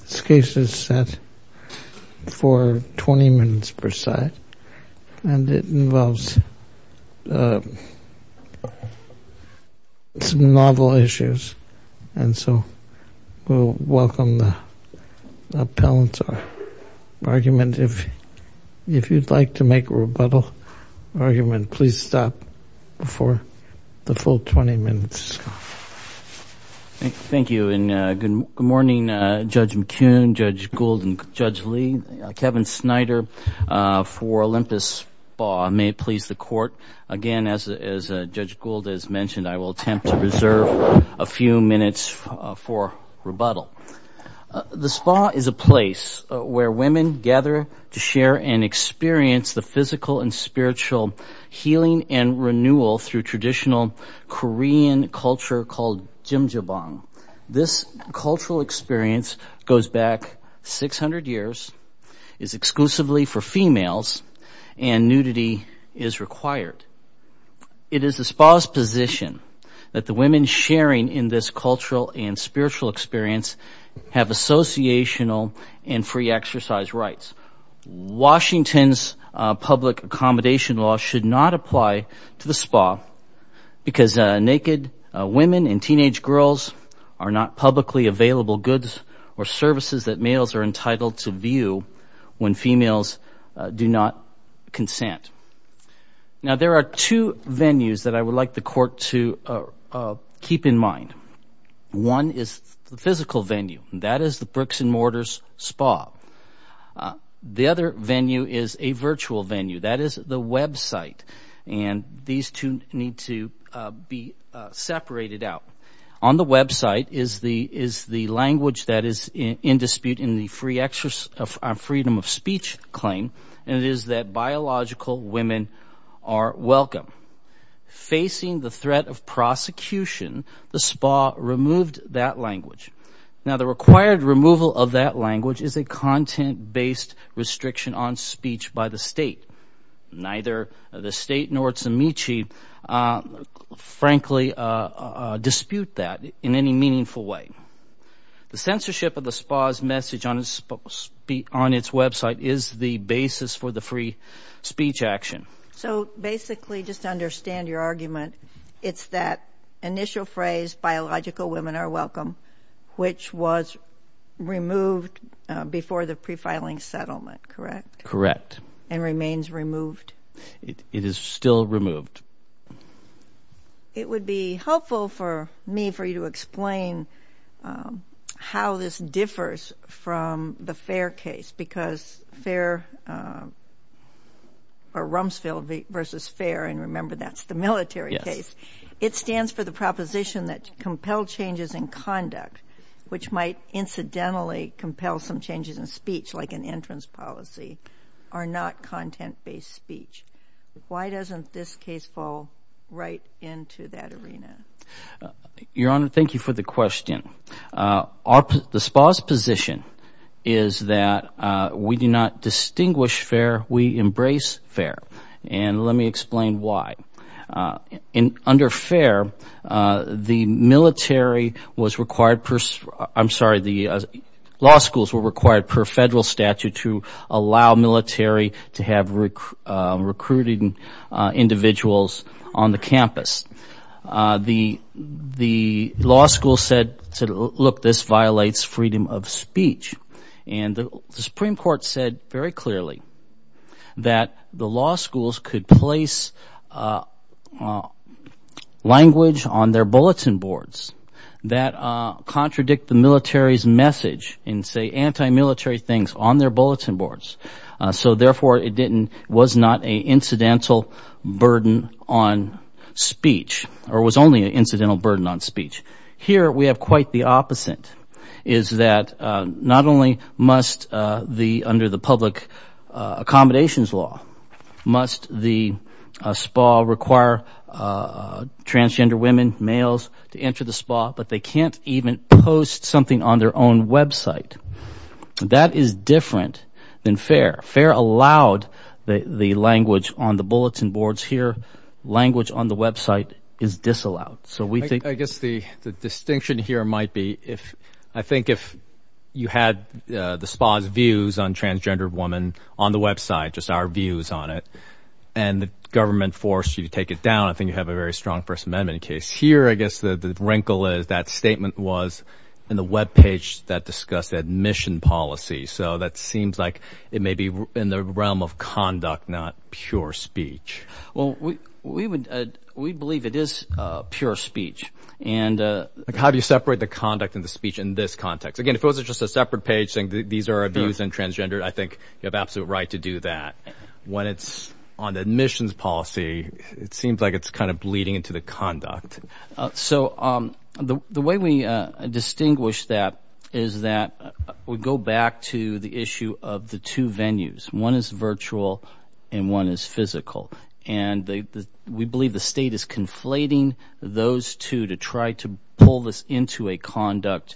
This case is set for 20 minutes per side and it involves some novel issues and so we'll welcome the appellant's argument. If you'd like to make a rebuttal argument, please stop before the full 20 minutes. Thank you and good morning Judge McCune, Judge Gould, and Judge Lee. Kevin Snyder for Olympus Spa. May it please the court. Again as Judge Gould has mentioned, I will attempt to reserve a few minutes for rebuttal. The spa is a place where women gather to share and experience the physical and spiritual healing and renewal through traditional Korean culture called Jjimjilbang. This cultural experience goes back 600 years, is exclusively for females, and nudity is required. It is the spa's position that the women sharing in this cultural and spiritual experience have associational and free exercise rights. Washington's public accommodation law should not apply to the spa because naked women and teenage girls are not publicly available goods or services that males are entitled to view when females do not consent. Now there are two venues that I would like the court to keep in mind. One is the physical venue, that is the bricks and mortars spa. The other venue is a virtual venue, that is the website, and these two need to be separated out. On the website is the language that is in dispute in the freedom of speech claim, and it is that biological women are welcome. Facing the threat of prosecution, the spa removed that language. Now the required removal of that language is a content-based restriction on speech by the state. Neither the state nor Tsumichi, frankly, dispute that in any meaningful way. The censorship of the spa's message on its website is the basis for the free speech action. So basically, just to understand your argument, it's that initial phrase, biological women are welcome, which was removed before the pre-filing settlement, correct? Correct. And remains removed? It is still removed. It would be helpful for me for you to explain how this differs from the FAIR case, because FAIR or Rumsfeld versus FAIR, and remember that's the military case, it stands for the proposition that compelled changes in conduct, which might incidentally compel some changes in speech, like an entrance policy, are not content-based speech. Why doesn't this case fall right into that arena? Your Honor, thank you for the question. The spa's position is that we do not care. The military was required, I'm sorry, the law schools were required per federal statute to allow military to have recruiting individuals on the campus. The law school said, look, this violates freedom of speech, and the Supreme Court said very clearly that the law schools could place language on their bulletin boards that contradict the military's message and say anti-military things on their bulletin boards. So therefore it didn't, was not a incidental burden on speech, or was only an incidental burden on speech. Here we have quite the opposite, is that not only must the, under the public accommodations law, must the spa require transgender women, males to enter the spa, but they can't even post something on their own website. That is different than FAIR. FAIR allowed the language on the bulletin boards here, language on the website is disallowed. So we think... I guess the distinction here might be if, I think if you had the spa's views on transgender women on the website, just our views on it, and the government forced you to take it down, I think you have a very strong First Amendment case. Here I guess the the wrinkle is that statement was in the webpage that discussed admission policy. So that seems like it may be in the realm of conduct, not pure speech. Well, we would, we believe it is pure speech, and... How do you separate the conduct and the speech in this context? Again, if it was just a separate page saying these are our views on transgender, I think you have absolute right to do that. When it's on admissions policy, it seems like it's kind of bleeding into the conduct. So, um, the way we distinguish that is that we go back to the issue of the two venues. One is virtual, and one is physical. And we believe the state is conflating those two to try to pull this into a conduct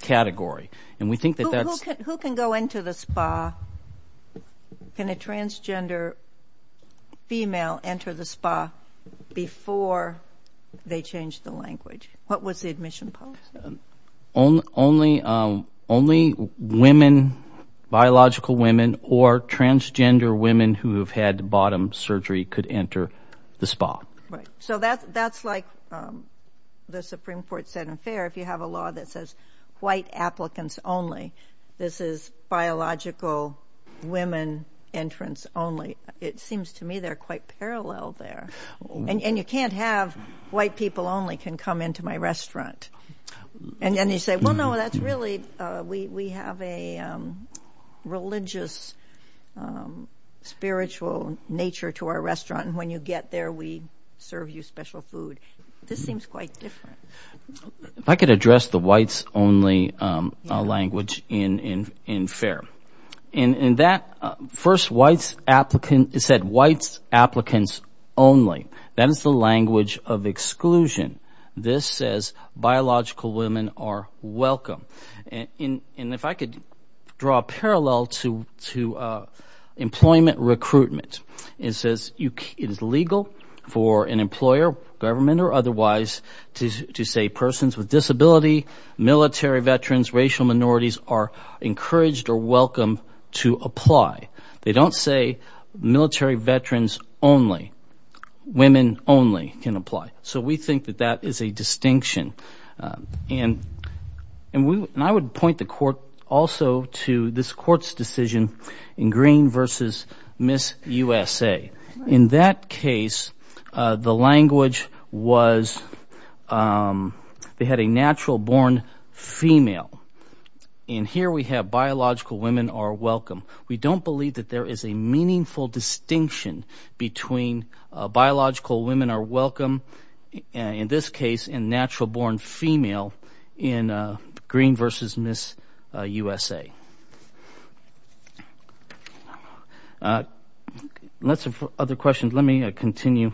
category. And we think that that's... Who can go into the spa? Can a transgender female enter the spa before they change the language? What was the admission policy? Only women, biological women, or transgender women who have had bottom surgery could enter the spa. Right. So that's, that's like the Supreme Court said in fair, if you have a law that says white applicants only, this is biological women entrance only. It seems to me they're quite parallel there. And you can't have white people only can come into my restaurant. And then you say, well, no, that's really, we have a religious, spiritual nature to our restaurant. And when you get there, we serve you special food. This seems quite different. I could address the whites only language in, in, in fair. And that first whites applicant, it said whites applicants only. That is the language of exclusion. This says biological women are welcome. And if I could draw a parallel to, to employment recruitment, it says it is legal for an employer, government or otherwise, to say persons with disability, military veterans, racial minorities are encouraged or welcome to apply. They don't say military veterans only. Women only can apply. So we think that that is a distinction. And, and we, and I would point the court also to this court's decision in Green versus Miss USA. In that case, the language was, they had a natural born female. And here we have biological women are welcome. We don't believe that there is a meaningful distinction between biological women are welcome, in this case, and natural born female in Green versus Miss USA. Lots of other questions. Let me continue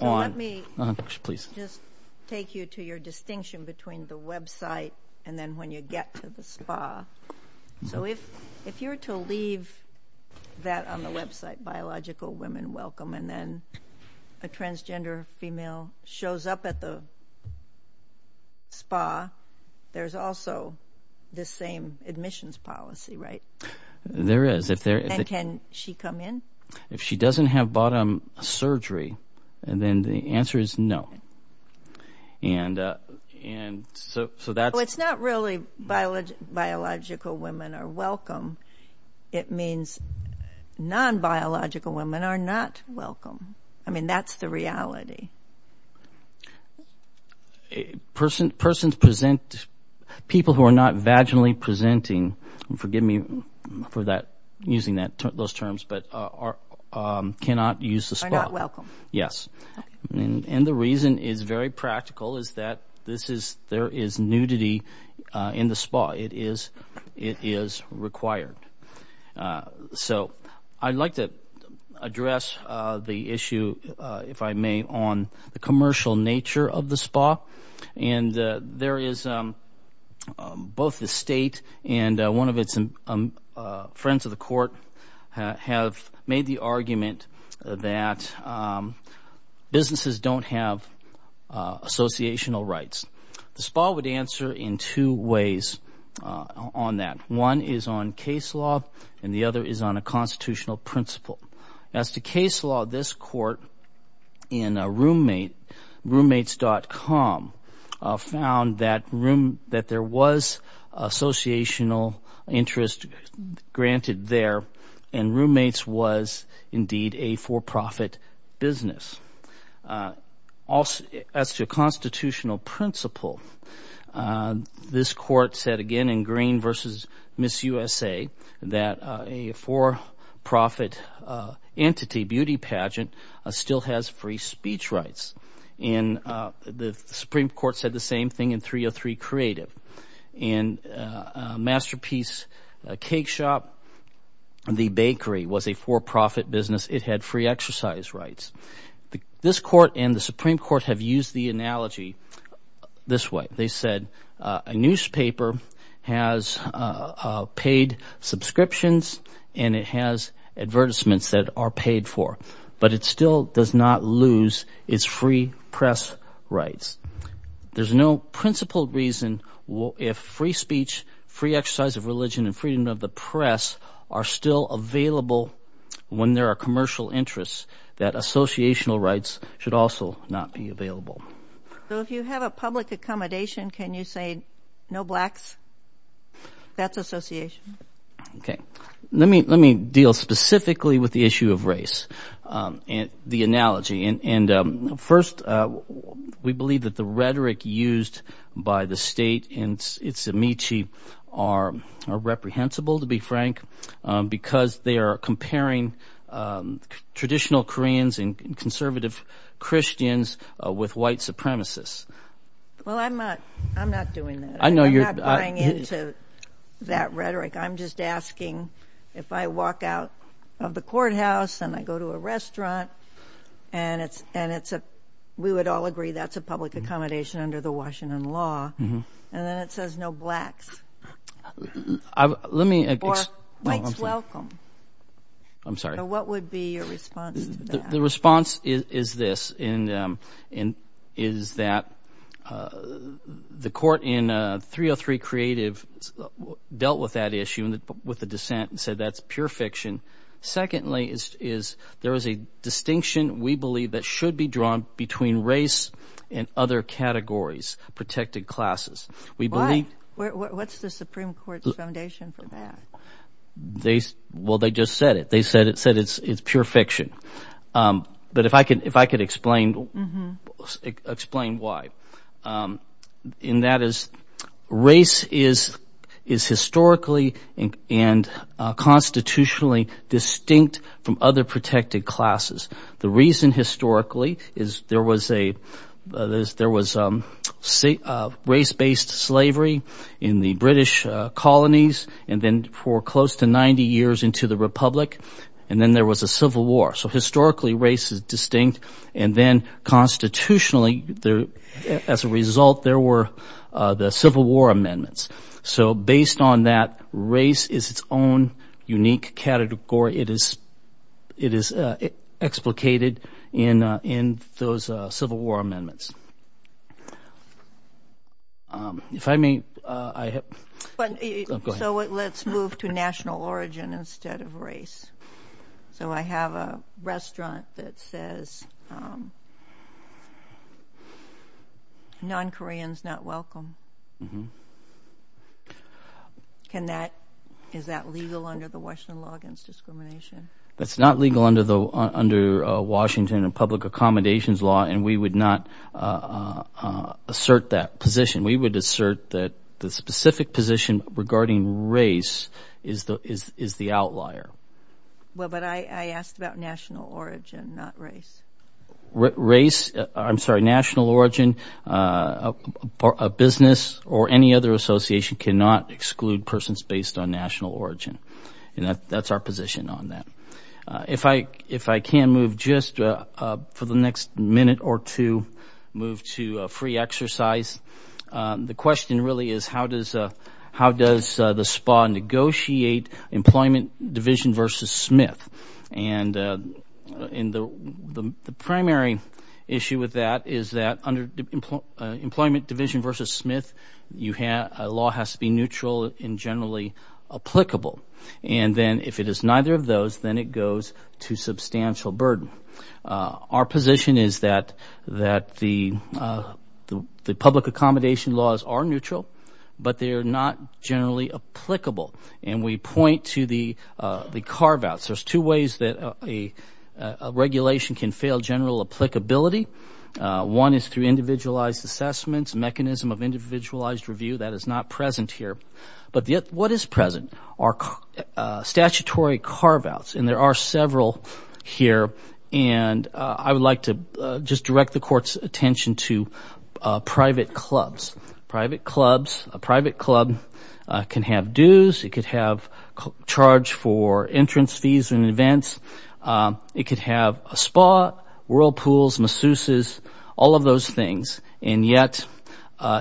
on. Let me just take you to your distinction between the website and then when you get to the spa. So if, if you were to leave that on the website, biological women welcome, and then a transgender female shows up at the spa, there's also the same admissions policy, right? There is. If they're... And can she come in? If she doesn't have bottom surgery, then the answer is no. And, and so, so that's... It's not really biological women are welcome. It means non-biological women are not welcome. I mean, that's the reality. Persons present, people who are not vaginally presenting, forgive me for that, using that, those terms, but are, cannot use the spa. Are not welcome. Yes. And the reason is very practical is that this is, there is nudity in the spa. It is, it is required. So I'd like to address the issue, if I may, on the commercial nature of the spa. And there is both the state and one of its friends of the court have made the argument that businesses don't have associational rights. The spa would answer in two ways on that. One is on case law and the other is on a constitutional principle. As to case law, this court in Roommates.com found that there was associational interest granted there, and Roommates was indeed a for-profit business. As to a constitutional principle, this court said again in Green v. Miss USA that a for-profit entity, beauty pageant, still has free speech rights. And the Supreme Court said the same thing in 303 Creative. And Masterpiece Cake Shop, the bakery, was a for-profit business. It had free exercise rights. This court and the Supreme Court have used the analogy this way. They said a newspaper has paid subscriptions and it has advertisements that are paid for. But it still does not lose its free press rights. There's no principled reason if free speech, free exercise of religion, and freedom of the press are still available when there are commercial interests that associational rights should also not be available. So if you have a public accommodation, can you say no blacks? That's association. Okay. Let me deal specifically with the issue of race and the analogy. And first, we believe that the rhetoric used by the state and its amici are reprehensible, to be frank, because they are comparing traditional Koreans and conservative Christians with white supremacists. Well, I'm not doing that. I'm not buying into that rhetoric. I'm just asking if I walk out of the courthouse and I go to a restaurant and we would all agree that's a public accommodation under the Washington law, and then it says no blacks. Or whites welcome. I'm sorry. What would be your response to that? The response is this, is that the court in 303 Creative dealt with that issue with a dissent and said that's pure fiction. Secondly, is there is a distinction we believe that should be drawn between race and other categories, protected classes. Why? What's the Supreme Court's foundation for that? Well, they just said it. They said it's pure fiction. But if I could explain why. And that is race is historically and constitutionally distinct from other protected classes. The reason historically is there was race-based slavery in the British colonies and then for close to 90 years into the republic. And then there was a civil war. So historically, race is distinct. And then constitutionally, as a result, there were the Civil War amendments. So based on that, race is its own unique category. It is explicated in those Civil War amendments. If I may. So let's move to national origin instead of race. So I have a restaurant that says non-Koreans not welcome. Can that, is that legal under the Washington law against discrimination? That's not legal under Washington and public accommodations law. And we would not assert that position. We would assert that the specific position regarding race is the outlier. Well, but I asked about national origin, not race. Race, I'm sorry, national origin, a business or any other association cannot exclude persons based on national origin. And that's our position on that. If I can move just for the next minute or two, move to free exercise. The question really is how does the SPA negotiate employment division versus Smith? And the primary issue with that is that under employment division versus Smith, a law has to be neutral and generally applicable. And then if it is neither of those, then it goes to substantial burden. Our position is that the public accommodation laws are neutral, but they are not generally applicable. And we point to the carve-outs. There's two ways that regulation can fail general applicability. One is through individualized assessments, mechanism of individualized review. That is not present here. But what is present are statutory carve-outs. And there are several here. And I would like to just direct the court's attention to private clubs. Private clubs, a private club can have dues. It could have charge for entrance fees and events. It could have a SPA, whirlpools, masseuses, all of those things. And yet,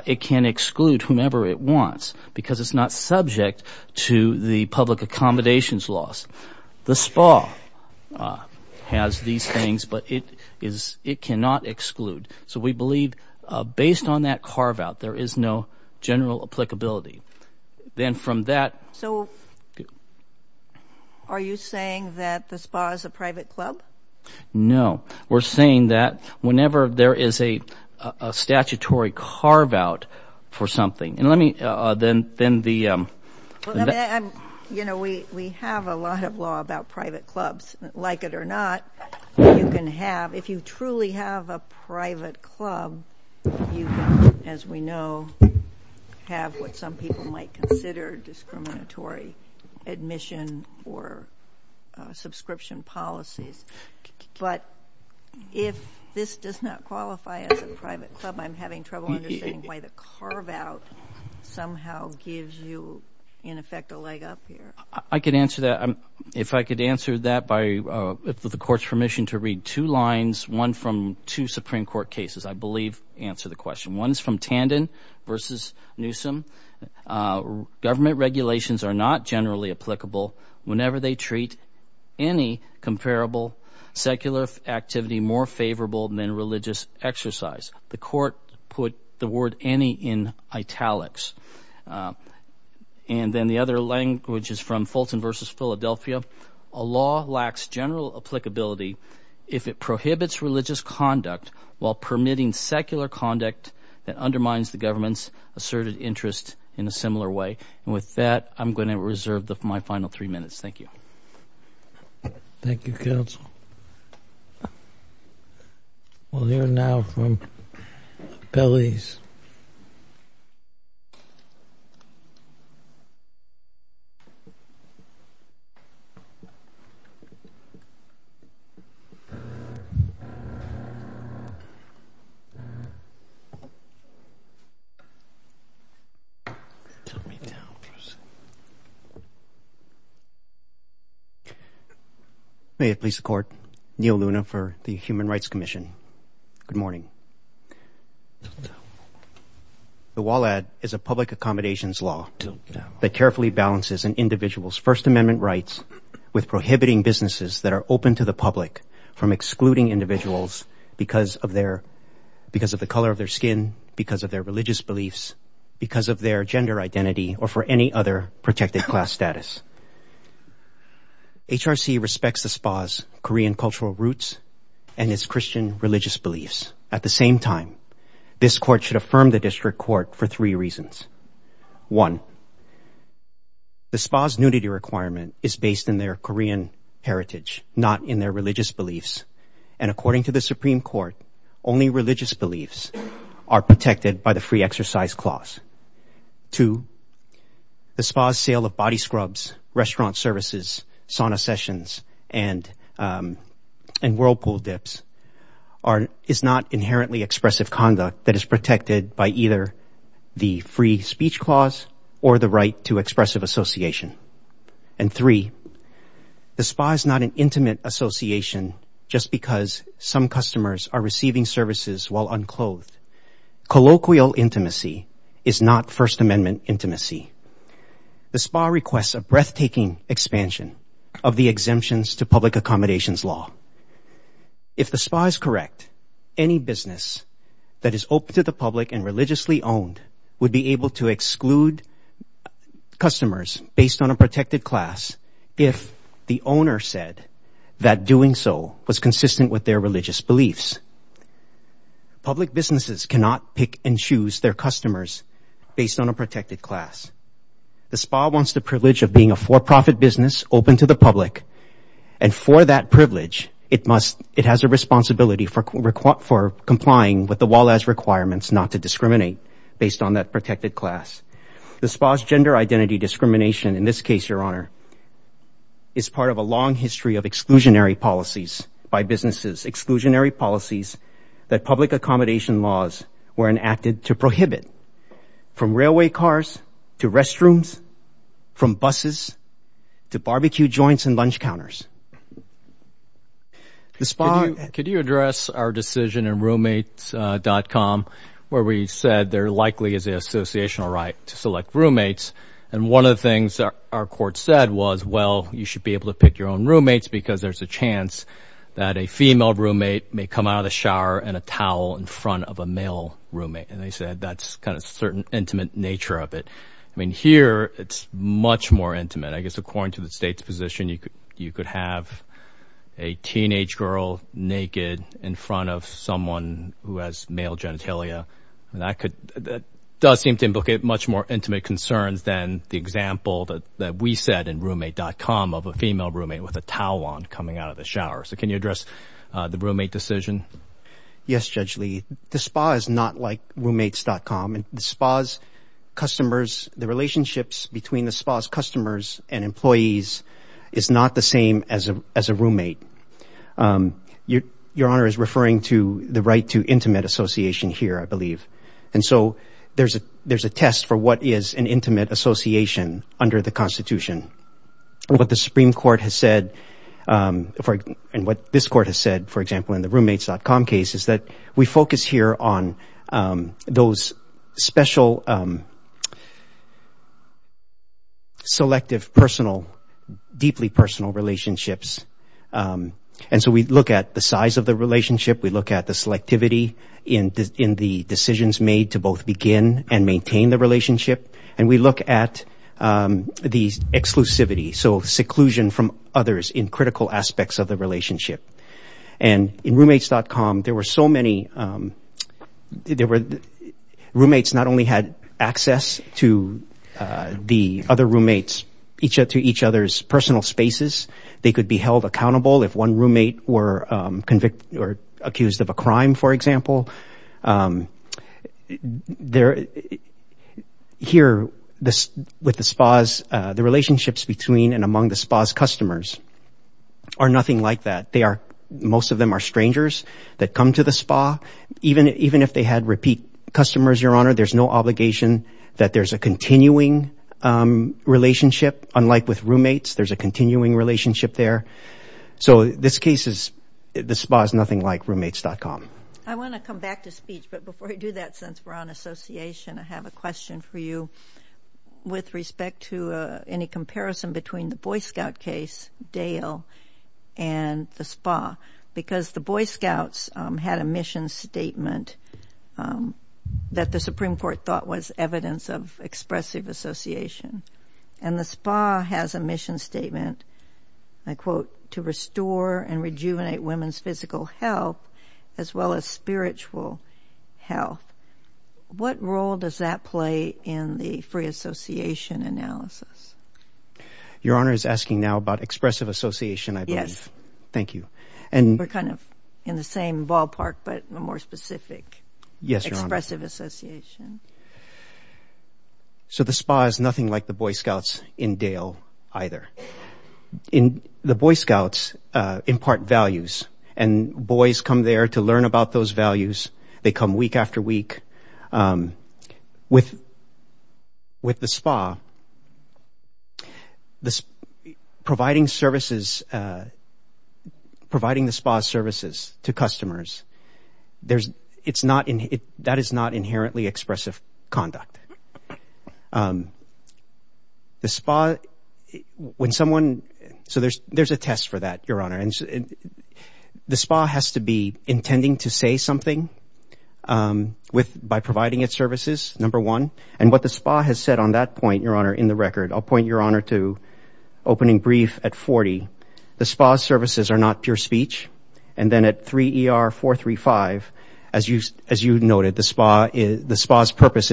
it can exclude whomever it wants because it's not subject to the public accommodations laws. The SPA has these things, but it cannot exclude. So we believe based on that carve-out, there is no general applicability. Then from that... So are you saying that the SPA is a private club? No. We're saying that whenever there is a statutory carve-out for something... Then the... You know, we have a lot of law about private clubs. Like it or not, you can have... If you truly have a private club, you can, as we know, have what some people might consider discriminatory admission or subscription policies. But if this does not qualify as a private club, I'm having trouble understanding why the carve-out somehow gives you, in effect, a leg up here. I could answer that. If I could answer that by the court's permission to read two lines, one from two Supreme Court cases, I believe answer the question. One is from Tandon versus Newsom. Government regulations are not generally applicable whenever they treat any comparable secular activity more favorable than religious exercise. The court put the word any in italics. And then the other language is from Fulton versus Philadelphia. A law lacks general applicability if it prohibits religious conduct while permitting secular conduct that undermines the government's asserted interest in a similar way. And with that, I'm going to reserve my final three minutes. Thank you. Thank you, counsel. We'll hear now from Pelley's. May it please the court. Neil Luna for the Human Rights Commission. Good morning. The WALAD is a public accommodations law that carefully balances an individual's First Amendment rights with prohibiting businesses that are open to the public from excluding individuals because of their, because of the color of their skin, because of their religious beliefs, because of their gender identity, or for any other protected class status. HRC respects the SPA's Korean cultural roots and its Christian religious beliefs. At the same time, this court should affirm the district court for three reasons. One, the SPA's nudity requirement is based in their Korean heritage, not in their religious beliefs. And according to the Supreme Court, only religious beliefs are protected by the and Whirlpool dips is not inherently expressive conduct that is protected by either the free speech clause or the right to expressive association. And three, the SPA is not an intimate association just because some customers are receiving services while unclothed. Colloquial intimacy is not First Amendment intimacy. The SPA requests a breathtaking expansion of the exemptions to public accommodations law. If the SPA is correct, any business that is open to the public and religiously owned would be able to exclude customers based on a protected class if the owner said that doing so was consistent with their religious beliefs. Public businesses cannot pick and choose their customers based on a protected class. The SPA wants the privilege of being a for-profit business open to the public. And for that privilege, it must, it has a responsibility for complying with the Wallace requirements not to discriminate based on that protected class. The SPA's gender identity discrimination in this case, Your Honor, is part of a long history of exclusionary policies by businesses, exclusionary policies that public accommodation laws were enacted to prohibit from railway cars to restrooms, from buses to barbecue joints and lunch counters. Could you address our decision in roommates.com where we said there likely is an associational right to select roommates. And one of the things our court said was, well, you should be able to come out of the shower in a towel in front of a male roommate. And they said that's kind of certain intimate nature of it. I mean, here it's much more intimate. I guess, according to the state's position, you could have a teenage girl naked in front of someone who has male genitalia. And that could, that does seem to implicate much more intimate concerns than the example that we said in roommate.com of a female roommate with a towel on coming out of the shower. So can you address our decision? Yes, Judge Lee, the SPA is not like roommates.com and the SPA's customers, the relationships between the SPA's customers and employees is not the same as a roommate. Your Honor is referring to the right to intimate association here, I believe. And so there's a test for what is an intimate association under the Constitution. What the Supreme Court has said, and what this Court has said, for example, in the roommates.com case, is that we focus here on those special, selective, personal, deeply personal relationships. And so we look at the size of the relationship. We look at the selectivity in the decisions made to both begin and maintain the relationship. And we look at the exclusivity, so seclusion from others in critical aspects of the relationship. And in roommates.com, there were so many, there were, roommates not only had access to the other roommates, to each other's personal spaces, they could be held accountable if one roommate were convicted or accused of a crime, for example. Here, with the SPA's, the relationships between and among the SPA's customers are nothing like that. They are, most of them are strangers that come to the SPA. Even if they had repeat customers, Your Honor, there's no obligation that there's a continuing relationship. Unlike with roommates, there's a continuing relationship there. So this case is, the SPA is nothing like roommates.com. I want to come back to speech, but before I do that, since we're on association, I have a question for you with respect to any comparison between the Boy Scout case, Dale, and the SPA. Because the Boy Scouts had a mission statement that the Supreme Court thought was evidence of expressive association. And the SPA has a mission statement, I quote, to restore and rejuvenate women's physical health as well as spiritual health. What role does that play in the free association analysis? Your Honor is asking now about expressive association, I believe. Thank you. And we're kind of in the same ballpark, but a more specific expressive association. So the SPA is nothing like the Boy Scouts in Dale, either. The Boy Scouts impart values, and boys come there to learn about those values. They come week after week. With the SPA, providing services, providing the SPA's services to customers, that is not inherently expressive. Conduct. The SPA, when someone, so there's a test for that, Your Honor. The SPA has to be intending to say something by providing its services, number one. And what the SPA has said on that point, Your Honor, in the record, I'll point Your Honor to opening brief at 40. The SPA's purpose in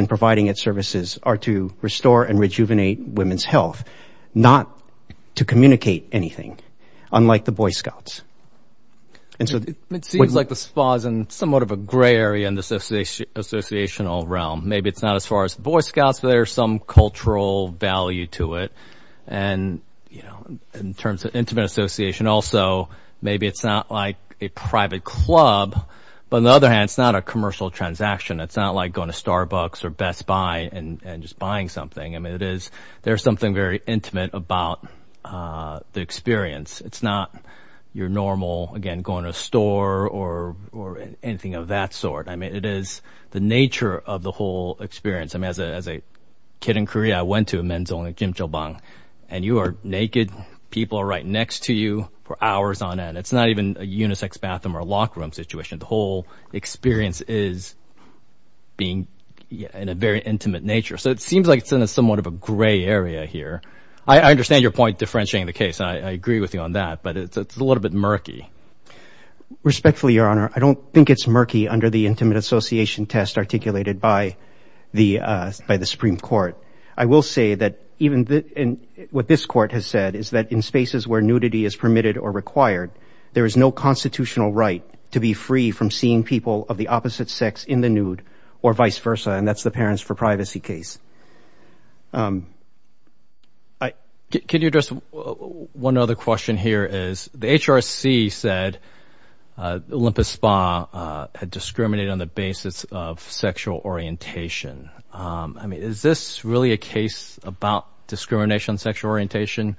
providing its services are to restore and rejuvenate women's health, not to communicate anything, unlike the Boy Scouts. It seems like the SPA is in somewhat of a gray area in the associational realm. Maybe it's not as far as Boy Scouts, but there's some cultural value to it. And in terms of intimate association also, maybe it's not like a private club. But on the other hand, it's not a commercial transaction. It's not like going to Starbucks or Best Buy and just buying something. I mean, it is, there's something very intimate about the experience. It's not your normal, again, going to a store or anything of that sort. I mean, it is the nature of the whole experience. I mean, as a kid in Korea, I went to a men's only jjimjilbang, and you are naked. People are right next to you for hours on end. It's not even a unisex bathroom or locker room situation. The experience is being in a very intimate nature. So it seems like it's in a somewhat of a gray area here. I understand your point, differentiating the case. I agree with you on that, but it's a little bit murky. Respectfully, Your Honor, I don't think it's murky under the intimate association test articulated by the Supreme Court. I will say that even what this court has said is that in spaces where nudity is permitted or required, there is no constitutional right to be free from seeing people of the opposite sex in the nude or vice versa, and that's the parents for privacy case. Can you address one other question here is, the HRC said Olympus Spa had discriminated on the basis of sexual orientation. I mean, is this really a case about discrimination on sexual orientation?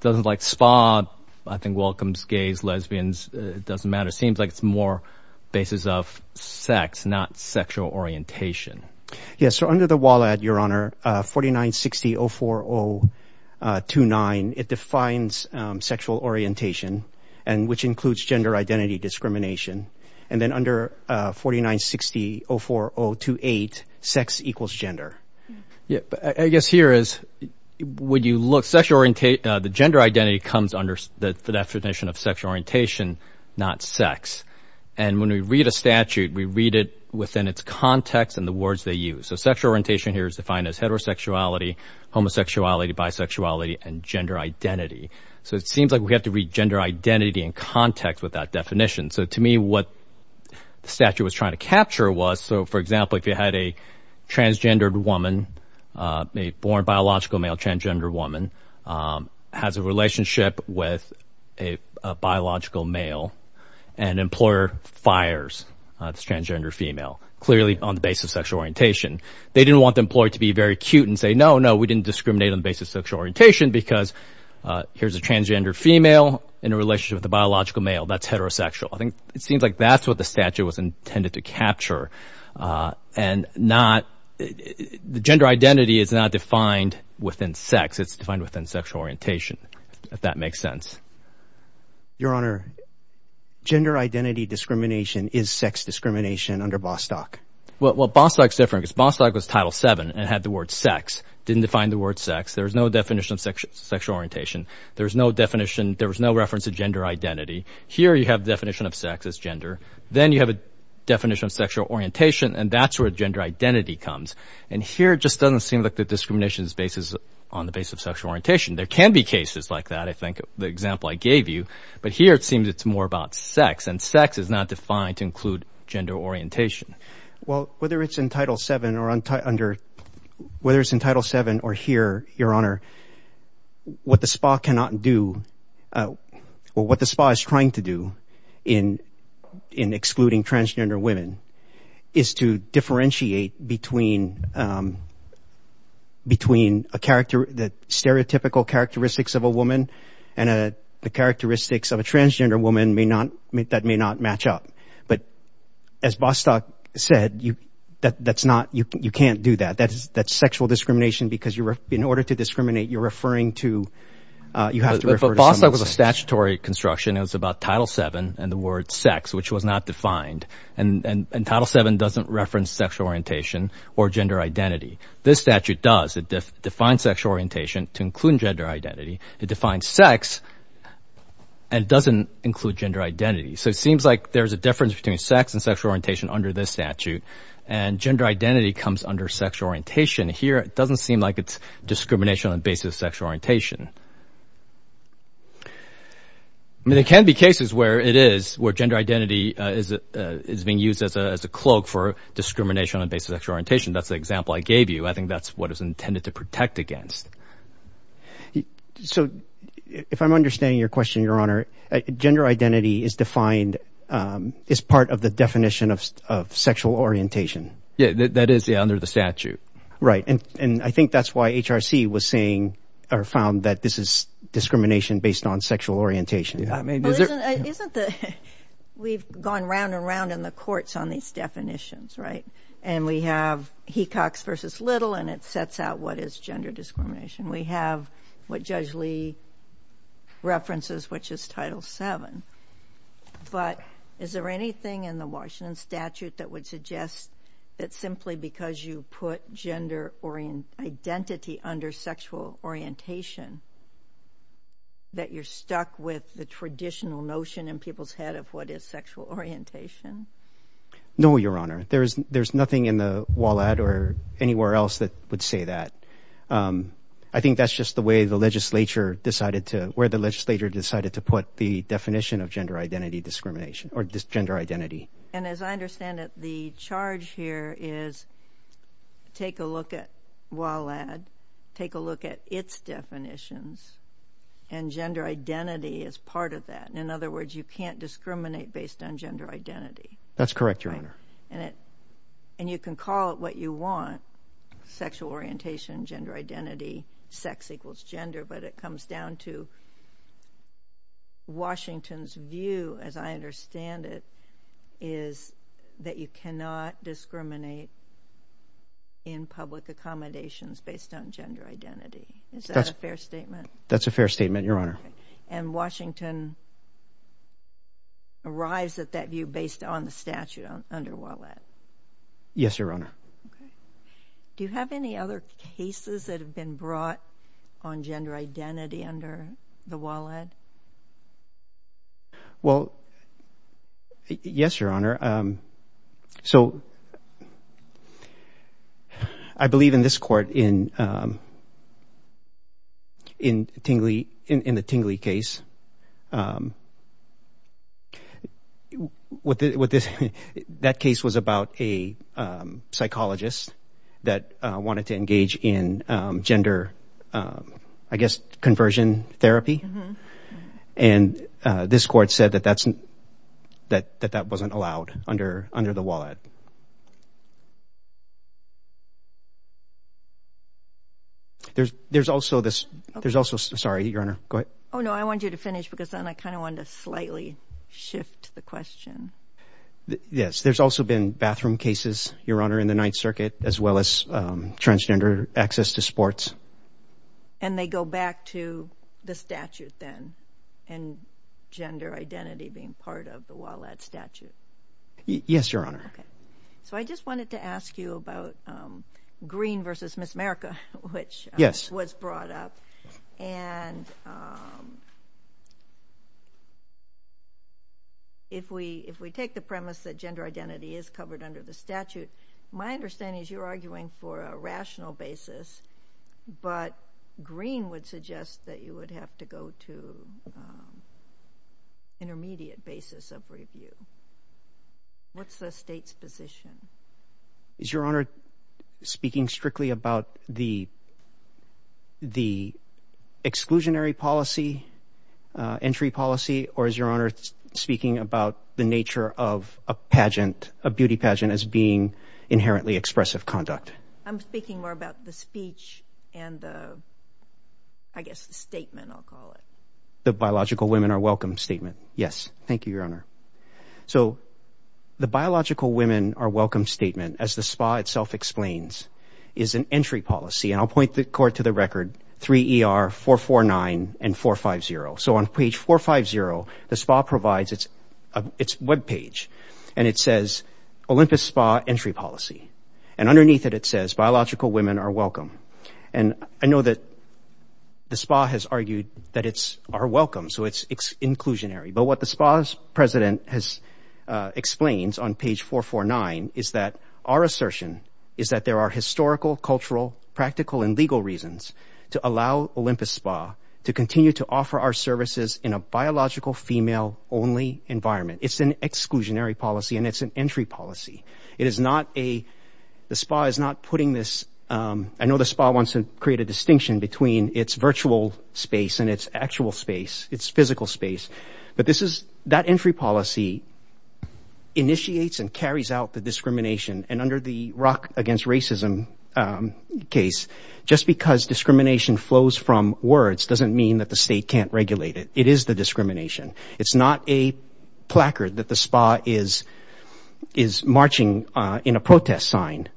Doesn't like spa, I think, welcomes gays, lesbians. It doesn't matter. Seems like it's more basis of sex, not sexual orientation. Yes. So under the WALAD, Your Honor, 4960-040-29, it defines sexual orientation and which includes gender identity discrimination. And then under 4960-040-28, sex equals gender. Yeah, I guess here is, would you look sexual the gender identity comes under the definition of sexual orientation, not sex. And when we read a statute, we read it within its context and the words they use. So sexual orientation here is defined as heterosexuality, homosexuality, bisexuality, and gender identity. So it seems like we have to read gender identity in context with that definition. So to me, what the statute was trying to capture was, so for example, if you had a transgendered woman, a born biological male transgender woman has a relationship with a biological male and employer fires the transgender female, clearly on the basis of sexual orientation. They didn't want the employee to be very cute and say, no, no, we didn't discriminate on the basis of sexual orientation because here's a transgender female in a relationship with a biological male that's heterosexual. I think it seems like that's what the statute was intended to capture. And not, the gender identity is not defined within sex. It's defined within sexual orientation, if that makes sense. Your Honor, gender identity discrimination is sex discrimination under Bostock. Well, Bostock is different because Bostock was Title VII and had the word sex, didn't define the word sex. There was no definition of sexual orientation. There was no definition, there was no reference to gender identity. Here you have a definition of sex as gender. Then you have a definition of sexual orientation and that's where gender identity comes. And here it just doesn't seem like the discrimination is based on the basis of sexual orientation. There can be cases like that, I think, the example I gave you, but here it seems it's more about sex and sex is not defined to include gender orientation. Well, whether it's in Title VII or under, whether it's in Title VII or here, Your Honor, what the SPA cannot do, or what the SPA is trying to do in excluding transgender women is to differentiate between the stereotypical characteristics of a woman and the characteristics of a transgender woman that may not match up. But as Bostock said, you can't do that. That's sexual discrimination because in order to discriminate, you're referring to, you have to refer to someone else. But Bostock was a statutory construction. It was about Title VII and the word sex, which was not defined. And Title VII doesn't reference sexual orientation or gender identity. This statute does. It defines sexual orientation to include gender identity. It defines sex and doesn't include gender identity. So it seems like there's a difference between sex and sexual orientation under this statute. And gender identity comes under sexual orientation. Here, it doesn't seem like it's discrimination on the basis of sexual orientation. There can be cases where it is, where gender identity is being used as a cloak for discrimination on the basis of sexual orientation. That's the example I gave you. I think that's what it's intended to protect against. So if I'm understanding your question, Your Honor, gender identity is defined as part of the definition of sexual orientation. Yeah, that is under the statute. Right. And I think that's why HRC was saying, or found that this is discrimination based on sexual orientation. We've gone round and round in the courts on these definitions, right? And we have Hecox versus Little, and it sets out what is gender discrimination. We have what Judge Lee references, which is Title VII. But is there anything in the Washington statute that would suggest that simply because you put gender identity under sexual orientation, that you're stuck with the traditional notion in people's head of what is sexual orientation? No, Your Honor. There's nothing in the WALAD or anywhere else that would say that. I think that's just the way the legislature decided to, where the legislature decided to put the definition of gender identity discrimination, or gender identity. And as I understand it, the charge here is take a look at WALAD, take a look at its definitions, and gender identity is part of that. In other words, you can't discriminate based on gender identity. That's correct, Your Honor. And you can call it what you want, sexual orientation, gender identity, sex equals gender, but it comes down to Washington's view, as I understand it, is that you cannot discriminate in public accommodations based on gender identity. Is that a fair statement? That's a fair statement, Your Honor. And Washington arrives at that view based on the statute under WALAD? Yes, Your Honor. Okay. Do you have any other cases that have been brought on gender identity under the WALAD? Well, yes, Your Honor. So I believe in this court, in the Tingley case, what this, that case was about a psychologist that wanted to engage in gender, I guess, conversion therapy. And this court said that that's, that that wasn't allowed under the WALAD. There's also this, there's also, sorry, Your Honor, go ahead. Oh, no, I wanted you to talk about because then I kind of wanted to slightly shift the question. Yes, there's also been bathroom cases, Your Honor, in the Ninth Circuit, as well as transgender access to sports. And they go back to the statute then, and gender identity being part of the WALAD statute? Yes, Your Honor. Okay. I just wanted to ask you about Green v. Miss America, which was brought up. And if we, if we take the premise that gender identity is covered under the statute, my understanding is you're arguing for a rational basis, but Green would suggest that you would have to go to intermediate basis of review. What's the state's position? Is Your Honor speaking strictly about the, the exclusionary policy, entry policy, or is Your Honor speaking about the nature of a pageant, a beauty pageant, as being inherently expressive conduct? I'm speaking more about the speech and the, I guess, the statement, I'll call it. The biological women are welcome statement. Yes. Thank you, Your Honor. So the biological women are welcome statement, as the SPA itself explains, is an entry policy. And I'll point the court to the record, 3 ER, 449, and 450. So on page 450, the SPA provides its, its webpage, and it says, Olympus SPA entry policy. And underneath it, it says biological women are welcome. And I know that the SPA has argued that it's, are welcome. So it's inclusionary. But what the SPA's president has explained on page 449 is that our assertion is that there are historical, cultural, practical, and legal reasons to allow Olympus SPA to continue to offer our services in a biological female-only environment. It's an exclusionary policy, and it's an entry policy. It is not a, the SPA is not putting this, I know the SPA wants to create a distinction between its virtual space and its actual space, its physical space. But this is, that entry policy initiates and carries out the discrimination. And under the Rock Against Racism case, just because discrimination flows from words doesn't mean that the state can't regulate it. It is the discrimination. It's not a placard that the SPA is, is marching in a protest sign.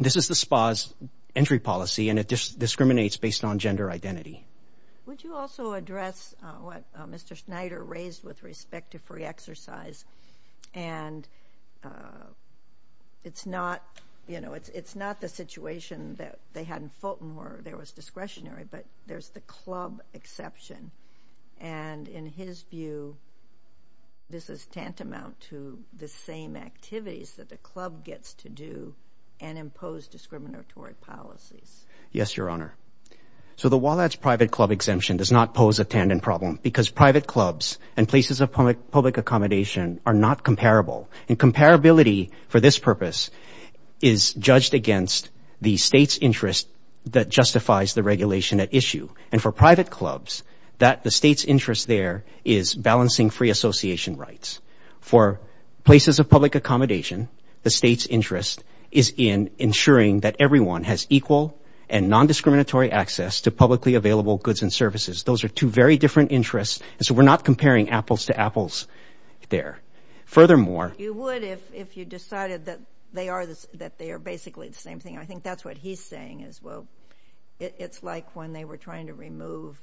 This is the SPA's entry policy, and it just discriminates based on gender identity. Would you also address what Mr. Schneider raised with respect to free exercise? And it's not, you know, it's, it's not the situation that they had in Fulton, there was discretionary, but there's the club exception. And in his view, this is tantamount to the same activities that the club gets to do and impose discriminatory policies. Yes, Your Honor. So the WALADS private club exemption does not pose a tandem problem because private clubs and places of public accommodation are not comparable. And comparability for this purpose is judged against the state's interest that justifies the regulation at issue. And for private clubs, that the state's interest there is balancing free association rights. For places of public accommodation, the state's interest is in ensuring that everyone has equal and non-discriminatory access to publicly available goods and services. Those are two very different interests. And so we're not comparing apples to apples there. Furthermore, you would if, if you decided that they are this, that they are basically the same thing. I think that's what he's saying is, well, it's like when they were trying to remove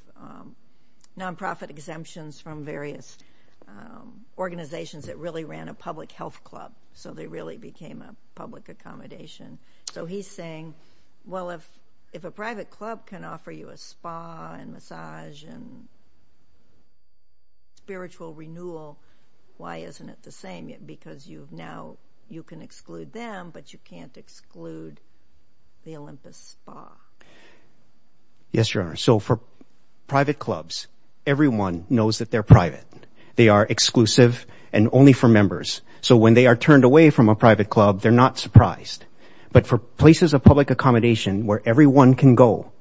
non-profit exemptions from various organizations that really ran a public health club. So they really became a public accommodation. So he's saying, well, if, if a private club can offer you a spa and massage and and spiritual renewal, why isn't it the same yet? Because you've now, you can exclude them, but you can't exclude the Olympus spa. Yes, Your Honor. So for private clubs, everyone knows that they're private. They are exclusive and only for members. So when they are turned away from a private club, they're not surprised. But for places of public accommodation where everyone can go,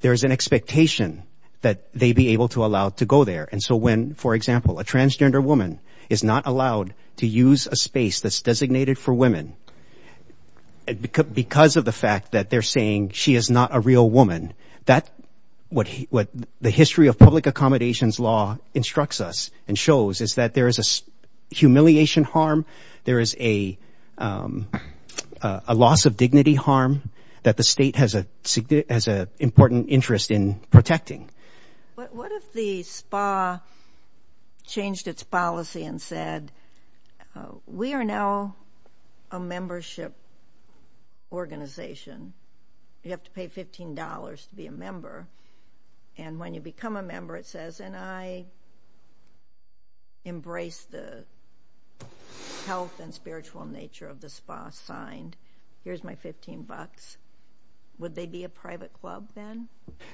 there is an expectation that they be able to allow to go there. And so when, for example, a transgender woman is not allowed to use a space that's designated for women because of the fact that they're saying she is not a real woman, that what he, what the history of public accommodations law instructs us and shows is that there is a humiliation harm. There is a loss of dignity harm that the state has a significant, has a important interest in protecting. But what if the spa changed its policy and said, we are now a membership organization. You have to pay $15 to be a member. And when you become a member, it says, and I would embrace the health and spiritual nature of the spa signed. Here's my 15 bucks. Would they be a private club then?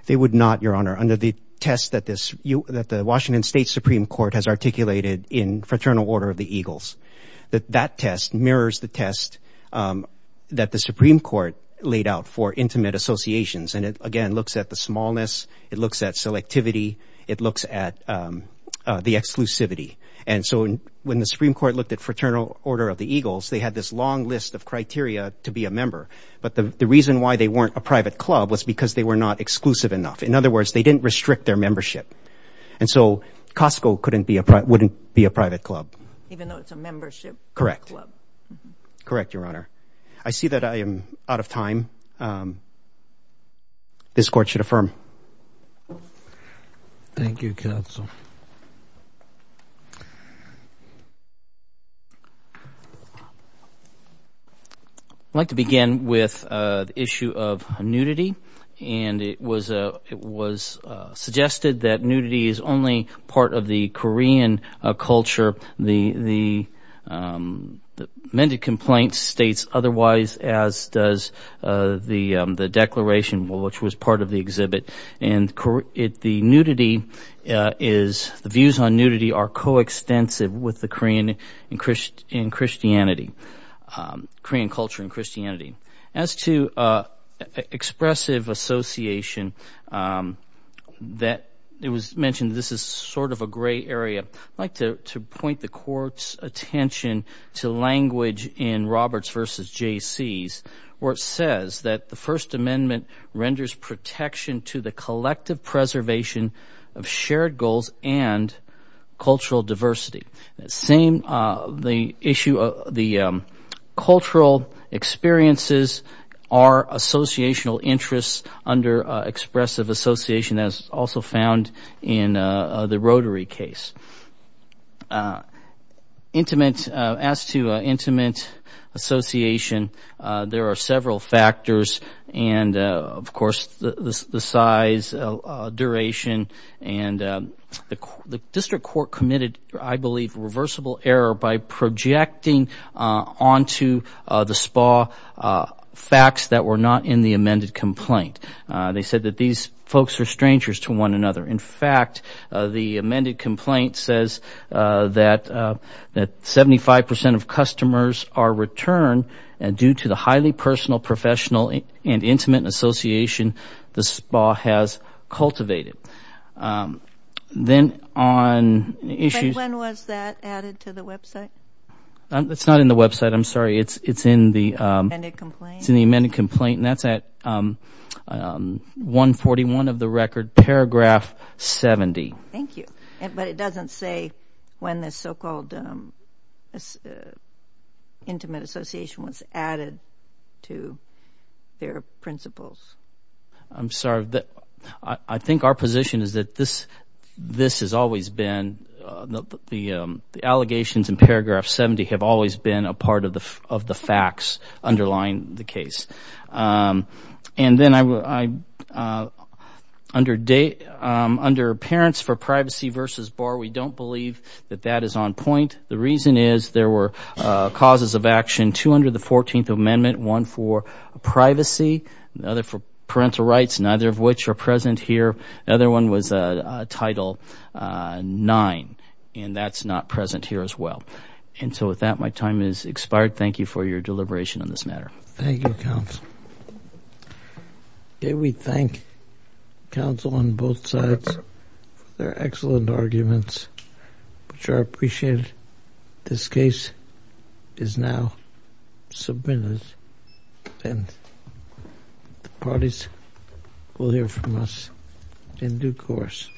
They would not, Your Honor, under the test that this, that the Washington State Supreme Court has articulated in Fraternal Order of the Eagles, that that test mirrors the test that the Supreme Court laid out for intimate associations. And it, again, looks at the exclusivity. And so when the Supreme Court looked at Fraternal Order of the Eagles, they had this long list of criteria to be a member. But the reason why they weren't a private club was because they were not exclusive enough. In other words, they didn't restrict their membership. And so Costco couldn't be a, wouldn't be a private club. Even though it's a membership. Correct. Correct, Your Honor. I see that I am out of time. This court should affirm. Thank you, counsel. I'd like to begin with the issue of nudity. And it was, it was suggested that nudity is only part of the Korean culture. The, the amended complaint states otherwise, as does the, the declaration, which was part of the exhibit. And the nudity is, the views on nudity are coextensive with the Korean and Christianity, Korean culture and Christianity. As to expressive association, that it was mentioned, this is sort of a gray area. I'd like to point the court's language in Roberts versus J.C.'s where it says that the First Amendment renders protection to the collective preservation of shared goals and cultural diversity. That same, the issue of the cultural experiences are associational interests under expressive association, as also found in the Rotary case. Intimate, as to intimate association, there are several factors. And of course, the size, duration, and the, the district court committed, I believe, reversible error by projecting onto the SPA facts that were not in the amended complaint. They said that these folks are strangers to one another. In fact, the amended complaint says that, that 75% of customers are returned due to the highly personal, professional, and intimate association the SPA has cultivated. Then on issues... But when was that added to the website? It's not in the website, I'm sorry. It's, it's in the... The amended complaint? It's in the amended complaint, and that's at 141 of the record, paragraph 70. Thank you. But it doesn't say when the so-called intimate association was added to their principles. I'm sorry. I think our position is that this, this has always been, the, the, the allegations in paragraph 70 have always been a part of the, of the facts underlying the case. And then I, I, under date, under parents for privacy versus bar, we don't believe that that is on point. The reason is there were causes of action, two under the 14th Amendment, one for privacy, another for parental rights, neither of which are present here. The other one was Title IX, and that's not present here as well. And so with that, my time is expired. Thank you for your deliberation on this matter. Thank you, counsel. Okay, we thank counsel on both sides for their excellent arguments, which are appreciated. This case is now submitted, and the parties will hear from us in due course.